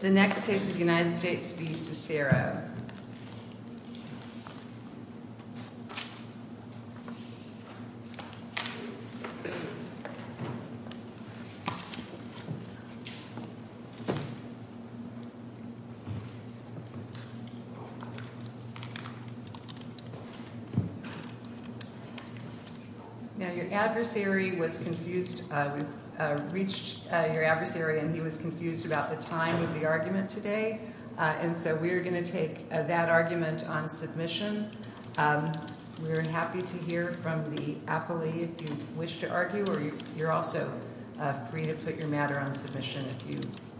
The next case is the United States v. Cesiro. Now your adversary was confused, we've reached your adversary and he was confused about the time of the argument today, and so we're going to take that argument on submission. We're happy to hear from the appellee if you wish to argue, or you're also free to put your matter on submission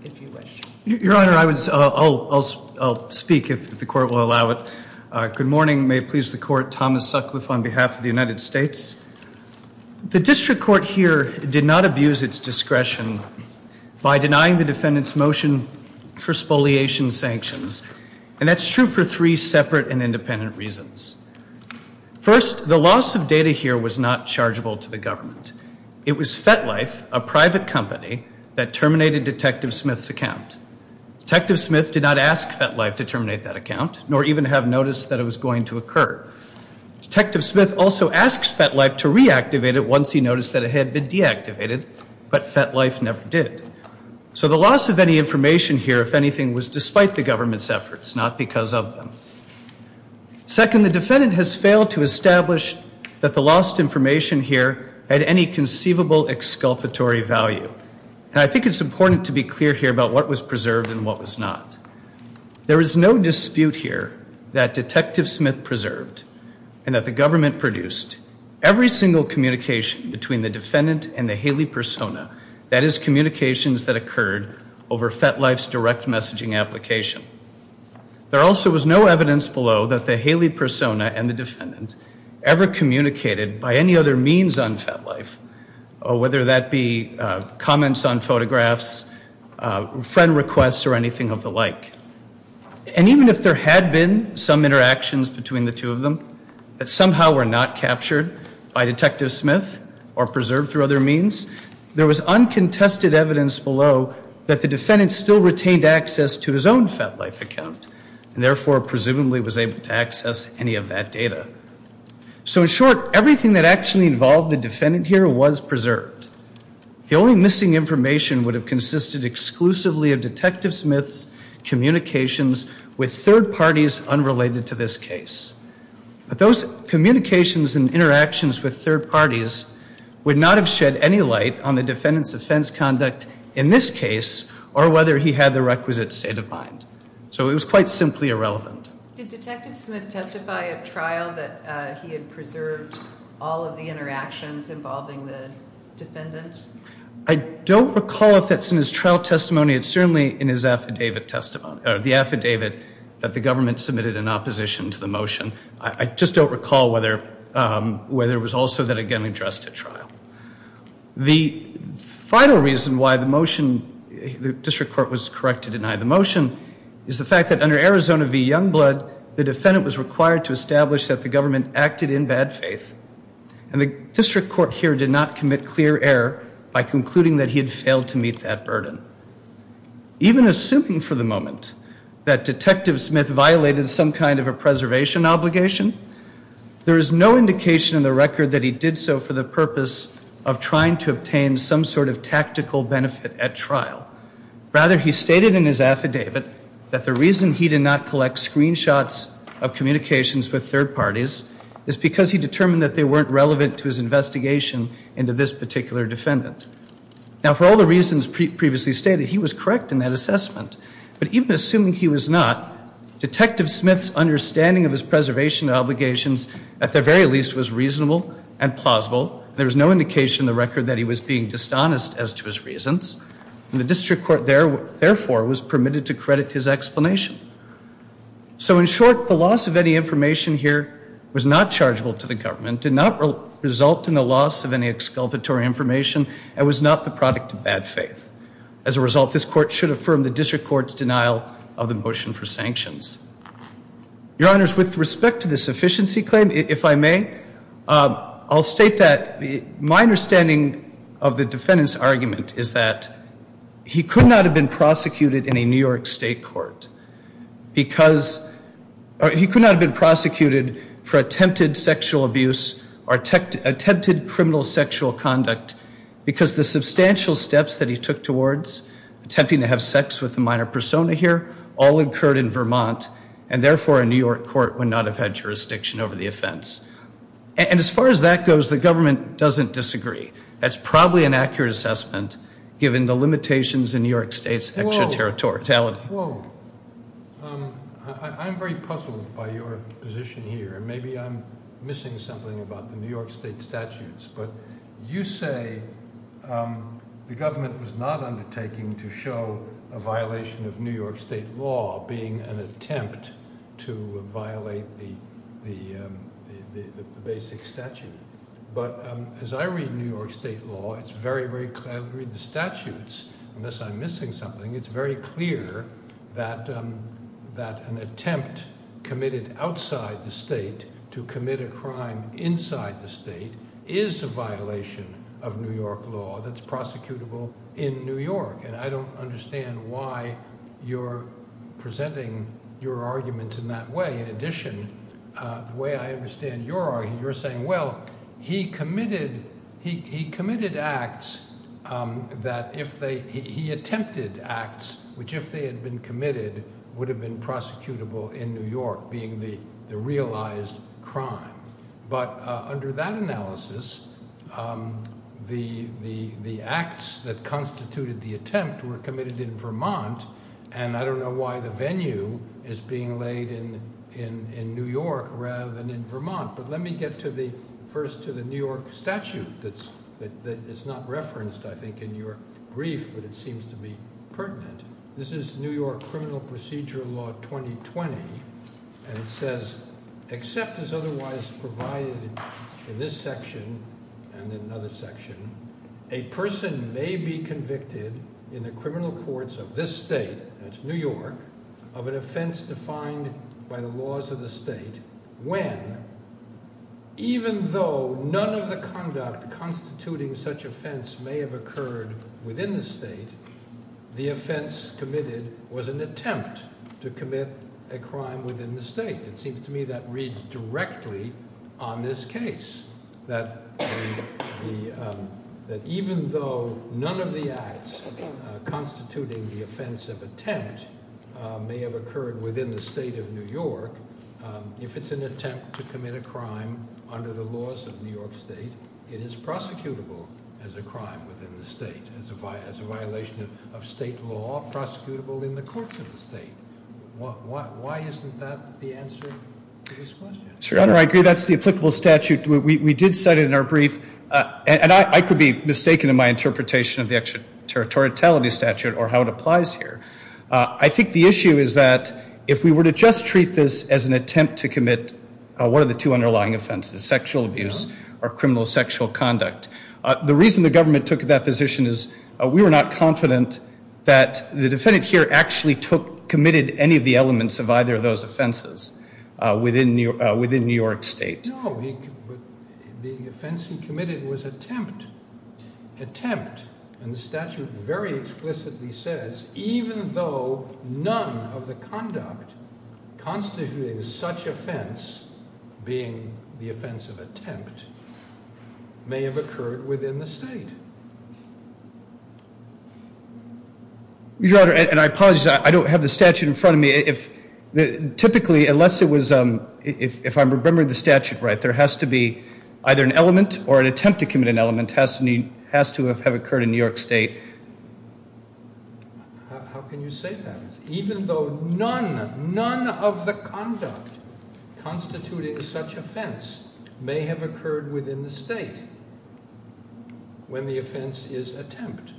if you wish. Your Honor, I'll speak if the Court will allow it. Good morning. May it please the Court. Thomas Sutcliffe on behalf of the United States. The District Court here did not abuse its discretion by denying the defendant's motion for spoliation sanctions, and that's true for three separate and independent reasons. First, the loss of data here was not chargeable to the government. It was FetLife, a private company, that terminated Detective Smith's account. Detective Smith did not ask FetLife to terminate that account, nor even have noticed that it was going to occur. Detective Smith also asked FetLife to reactivate it once he noticed that it had been deactivated, but FetLife never did. So the loss of any information here, if anything, was despite the government's efforts, not because of them. Second, the defendant has failed to establish that the lost information here had any conceivable exculpatory value. And I think it's important to be clear here about what was preserved and what was not. There is no dispute here that Detective Smith preserved and that the government produced every single communication between the defendant and the Haley persona, that is, communications that occurred over FetLife's direct messaging application. There also was no evidence below that the Haley persona and the defendant ever communicated by any other means on FetLife, whether that be comments on photographs, friend requests, or anything of the like. And even if there had been some interactions between the two of them, that somehow were not captured by Detective Smith or preserved through other means, there was uncontested evidence below that the defendant still retained access to his own FetLife account, and therefore presumably was able to access any of that data. So in short, everything that actually involved the defendant here was preserved. The only missing information would have consisted exclusively of Detective Smith's communications with third parties unrelated to this case. But those communications and interactions with third parties would not have shed any light on the defendant's offense conduct in this case or whether he had the requisite state of mind. So it was quite simply irrelevant. Did Detective Smith testify at trial that he had preserved all of the interactions involving the defendant? I don't recall if that's in his trial testimony. It's certainly in his affidavit testimony, the affidavit that the government submitted in opposition to the motion. I just don't recall whether it was also then again addressed at trial. The final reason why the motion, the district court was correct to deny the motion, is the fact that under Arizona v. Youngblood, the defendant was required to establish that the government acted in bad faith. And the district court here did not commit clear error by concluding that he had failed to meet that burden. Even assuming for the moment that Detective Smith violated some kind of a preservation obligation, there is no indication in the record that he did so for the purpose of trying to obtain some sort of tactical benefit at trial. Rather, he stated in his affidavit that the reason he did not collect screenshots of communications with third parties is because he determined that they weren't relevant to his investigation into this particular defendant. Now, for all the reasons previously stated, he was correct in that assessment. But even assuming he was not, Detective Smith's understanding of his preservation obligations, at the very least, was reasonable and plausible. There was no indication in the record that he was being dishonest as to his reasons. And the district court, therefore, was permitted to credit his explanation. So in short, the loss of any information here was not chargeable to the government, did not result in the loss of any exculpatory information, and was not the product of bad faith. As a result, this court should affirm the district court's denial of the motion for sanctions. Your Honors, with respect to the sufficiency claim, if I may, I'll state that my understanding of the defendant's argument is that he could not have been prosecuted in a New York State court because he could not have been prosecuted for attempted sexual abuse or attempted criminal sexual conduct because the substantial steps that he took towards attempting to have sex with a minor persona here all occurred in Vermont, and therefore, a New York court would not have had jurisdiction over the offense. And as far as that goes, the government doesn't disagree. That's probably an accurate assessment, given the limitations in New York State's extraterritoriality. Whoa. I'm very puzzled by your position here. Maybe I'm missing something about the New York State statutes. But you say the government was not undertaking to show a violation of New York State law being an attempt to violate the basic statute. But as I read New York State law, it's very, very clear. I read the statutes. Unless I'm missing something. It's very clear that an attempt committed outside the state to commit a crime inside the state is a violation of New York law that's prosecutable in New York. And I don't understand why you're presenting your arguments in that way. In addition, the way I understand your argument, you're saying, well, he committed acts that if they he attempted acts, which if they had been committed, would have been prosecutable in New York, being the realized crime. But under that analysis, the acts that constituted the attempt were committed in Vermont, and I don't know why the venue is being laid in New York rather than in Vermont. But let me get first to the New York statute that is not referenced, I think, in your brief, but it seems to be pertinent. This is New York Criminal Procedure Law 2020, and it says, except as otherwise provided in this section and in another section, a person may be convicted in the criminal courts of this state, that's New York, of an offense defined by the laws of the state when, even though none of the conduct constituting such offense may have occurred within the state, the offense committed was an attempt to commit a crime within the state. It seems to me that reads directly on this case, that even though none of the acts constituting the offense of attempt may have occurred within the state of New York, if it's an attempt to commit a crime under the laws of New York State, it is prosecutable as a crime within the state, as a violation of state law, prosecutable in the courts of the state. Why isn't that the answer to this question? Sure, I agree that's the applicable statute. We did set it in our brief, and I could be mistaken in my interpretation of the extraterritoriality statute or how it applies here. I think the issue is that if we were to just treat this as an attempt to commit one of the two underlying offenses, sexual abuse or criminal sexual conduct, the reason the government took that position is we were not confident that the defendant here actually committed any of the elements of either of those offenses within New York State. No, but the offense he committed was attempt. Attempt, and the statute very explicitly says, even though none of the conduct constituting such offense, being the offense of attempt, may have occurred within the state. Your Honor, and I apologize, I don't have the statute in front of me. Typically, unless it was, if I remember the statute right, there has to be either an element or an attempt to commit an element has to have occurred in New York State. How can you say that? Even though none, none of the conduct constituting such offense may have occurred within the state when the offense is attempt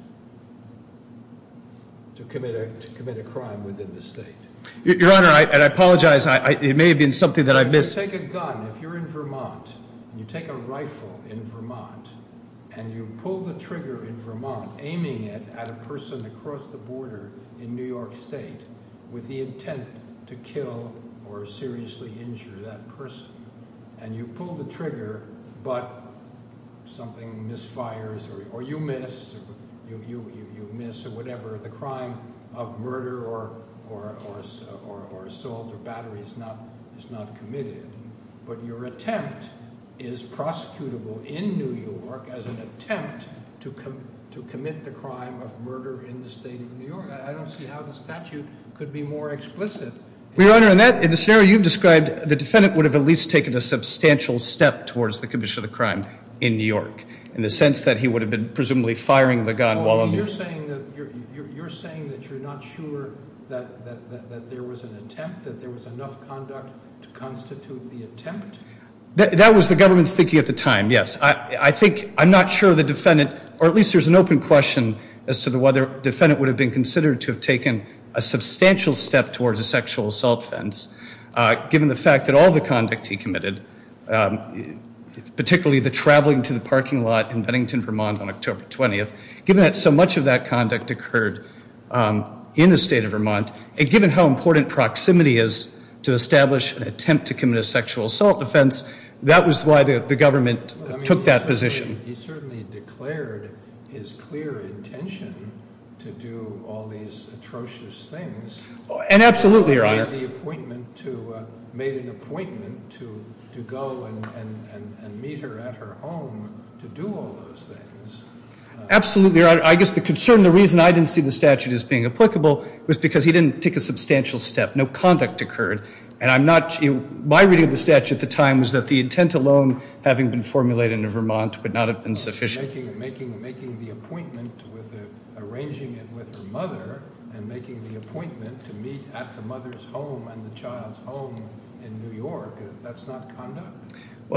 to commit a crime within the state. Your Honor, and I apologize, it may have been something that I missed. If you take a gun, if you're in Vermont, and you take a rifle in Vermont, and you pull the trigger in Vermont, aiming it at a person across the border in New York State with the intent to kill or seriously injure that person, and you pull the trigger, but something misfires, or you miss, or whatever, the crime of murder or assault or battery is not committed, but your attempt is prosecutable in New York as an attempt to commit the crime of murder in the state of New York. I don't see how the statute could be more explicit. Your Honor, in that, in the scenario you've described, the defendant would have at least taken a substantial step towards the commission of the crime in New York in the sense that he would have been presumably firing the gun while on the... You're saying that you're not sure that there was an attempt, that there was enough conduct to constitute the attempt? That was the government's thinking at the time, yes. I think I'm not sure the defendant, or at least there's an open question as to whether the defendant would have been considered to have taken a substantial step towards a sexual assault offense given the fact that all the conduct he committed, particularly the traveling to the parking lot in Bennington, Vermont on October 20th, given that so much of that conduct occurred in the state of Vermont, and given how important proximity is to establish an attempt to commit a sexual assault offense, that was why the government took that position. He certainly declared his clear intention to do all these atrocious things. And absolutely, Your Honor. He made an appointment to go and meet her at her home to do all those things. Absolutely, Your Honor. I guess the concern, the reason I didn't see the statute as being applicable was because he didn't take a substantial step. No conduct occurred. My reading of the statute at the time was that the intent alone, having been formulated in Vermont, would not have been sufficient. Making the appointment, arranging it with her mother, and making the appointment to meet at the mother's home and the child's home in New York, that's not conduct.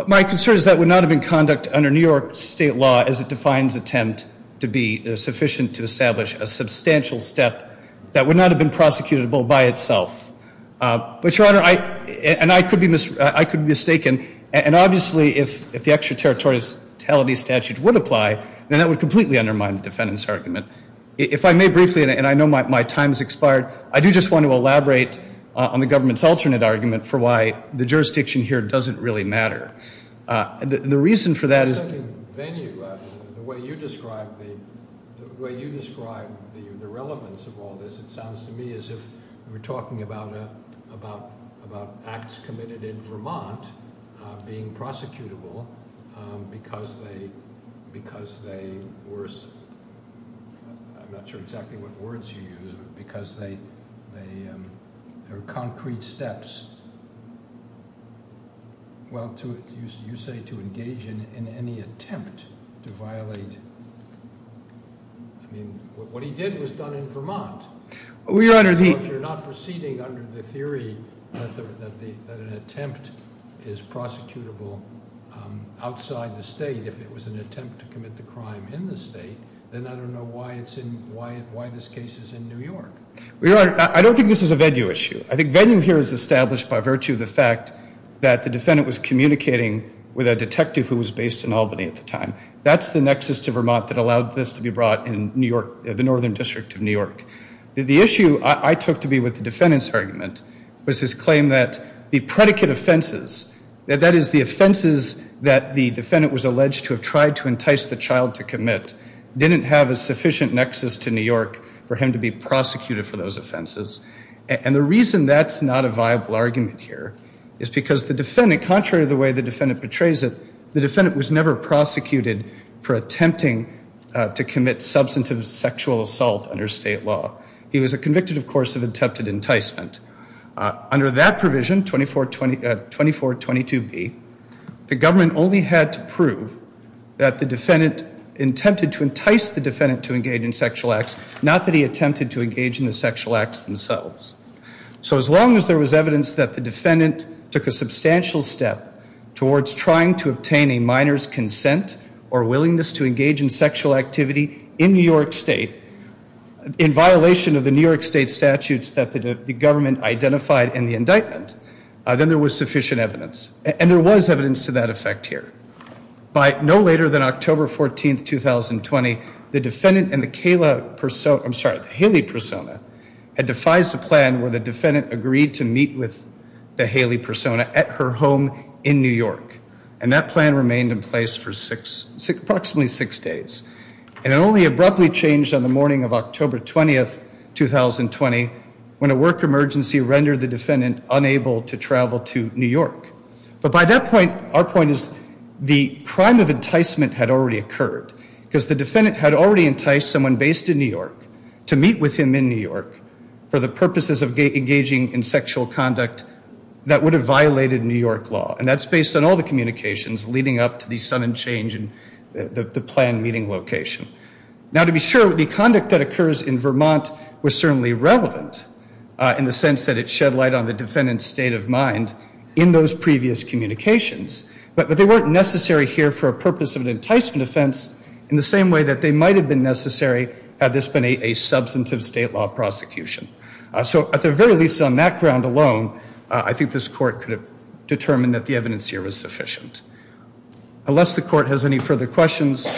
My concern is that would not have been conduct under New York state law as it defines attempt to be sufficient to establish a substantial step that would not have been prosecutable by itself. But, Your Honor, and I could be mistaken, and obviously if the extraterritoriality statute would apply, then that would completely undermine the defendant's argument. If I may briefly, and I know my time has expired, I do just want to elaborate on the government's alternate argument for why the jurisdiction here doesn't really matter. The reason for that is... The second venue, the way you describe the relevance of all this, it sounds to me as if we're talking about acts committed in Vermont being prosecutable because they were... I'm not sure exactly what words you use, but because they are concrete steps. Well, you say to engage in any attempt to violate... What he did was done in Vermont. If you're not proceeding under the theory that an attempt is prosecutable outside the state, if it was an attempt to commit the crime in the state, then I don't know why this case is in New York. Your Honor, I don't think this is a venue issue. I think venue here is established by virtue of the fact that the defendant was communicating with a detective who was based in Albany at the time. That's the nexus to Vermont that allowed this to be brought in the northern district of New York. The issue I took to be with the defendant's argument was his claim that the predicate offenses, that is the offenses that the defendant was alleged to have tried to entice the child to commit, didn't have a sufficient nexus to New York for him to be prosecuted for those offenses. And the reason that's not a viable argument here is because the defendant, contrary to the way the defendant portrays it, the defendant was never prosecuted for attempting to commit substantive sexual assault under state law. He was convicted, of course, of attempted enticement. Under that provision, 2422B, the government only had to prove that the defendant attempted to entice the defendant to engage in sexual acts, not that he attempted to engage in the sexual acts themselves. So as long as there was evidence that the defendant took a substantial step towards trying to obtain a minor's consent or willingness to engage in sexual activity in New York State, in violation of the New York State statutes that the government identified in the indictment, then there was sufficient evidence. And there was evidence to that effect here. By no later than October 14th, 2020, the defendant and the Kayla persona, I'm sorry, the Haley persona, had devised a plan where the defendant agreed to meet with the Haley persona at her home in New York. And that plan remained in place for approximately six days. And it only abruptly changed on the morning of October 20th, 2020, when a work emergency rendered the defendant unable to travel to New York. But by that point, our point is the crime of enticement had already occurred because the defendant had already enticed someone based in New York to meet with him in New York for the purposes of engaging in sexual conduct that would have violated New York law. And that's based on all the communications leading up to the sudden change in the planned meeting location. Now, to be sure, the conduct that occurs in Vermont was certainly relevant in the sense that it shed light on the defendant's state of mind in those previous communications. But they weren't necessary here for a purpose of an enticement offense in the same way that they might have been necessary had this been a substantive state law prosecution. So at the very least on that ground alone, I think this court could have determined that the evidence here was sufficient. Unless the court has any further questions,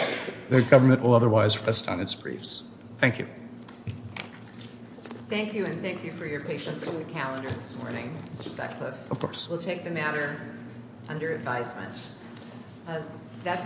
the government will otherwise rest on its briefs. Thank you. Thank you and thank you for your patience with the calendar this morning, Mr. Sutcliffe. Of course. We'll take the matter under advisement.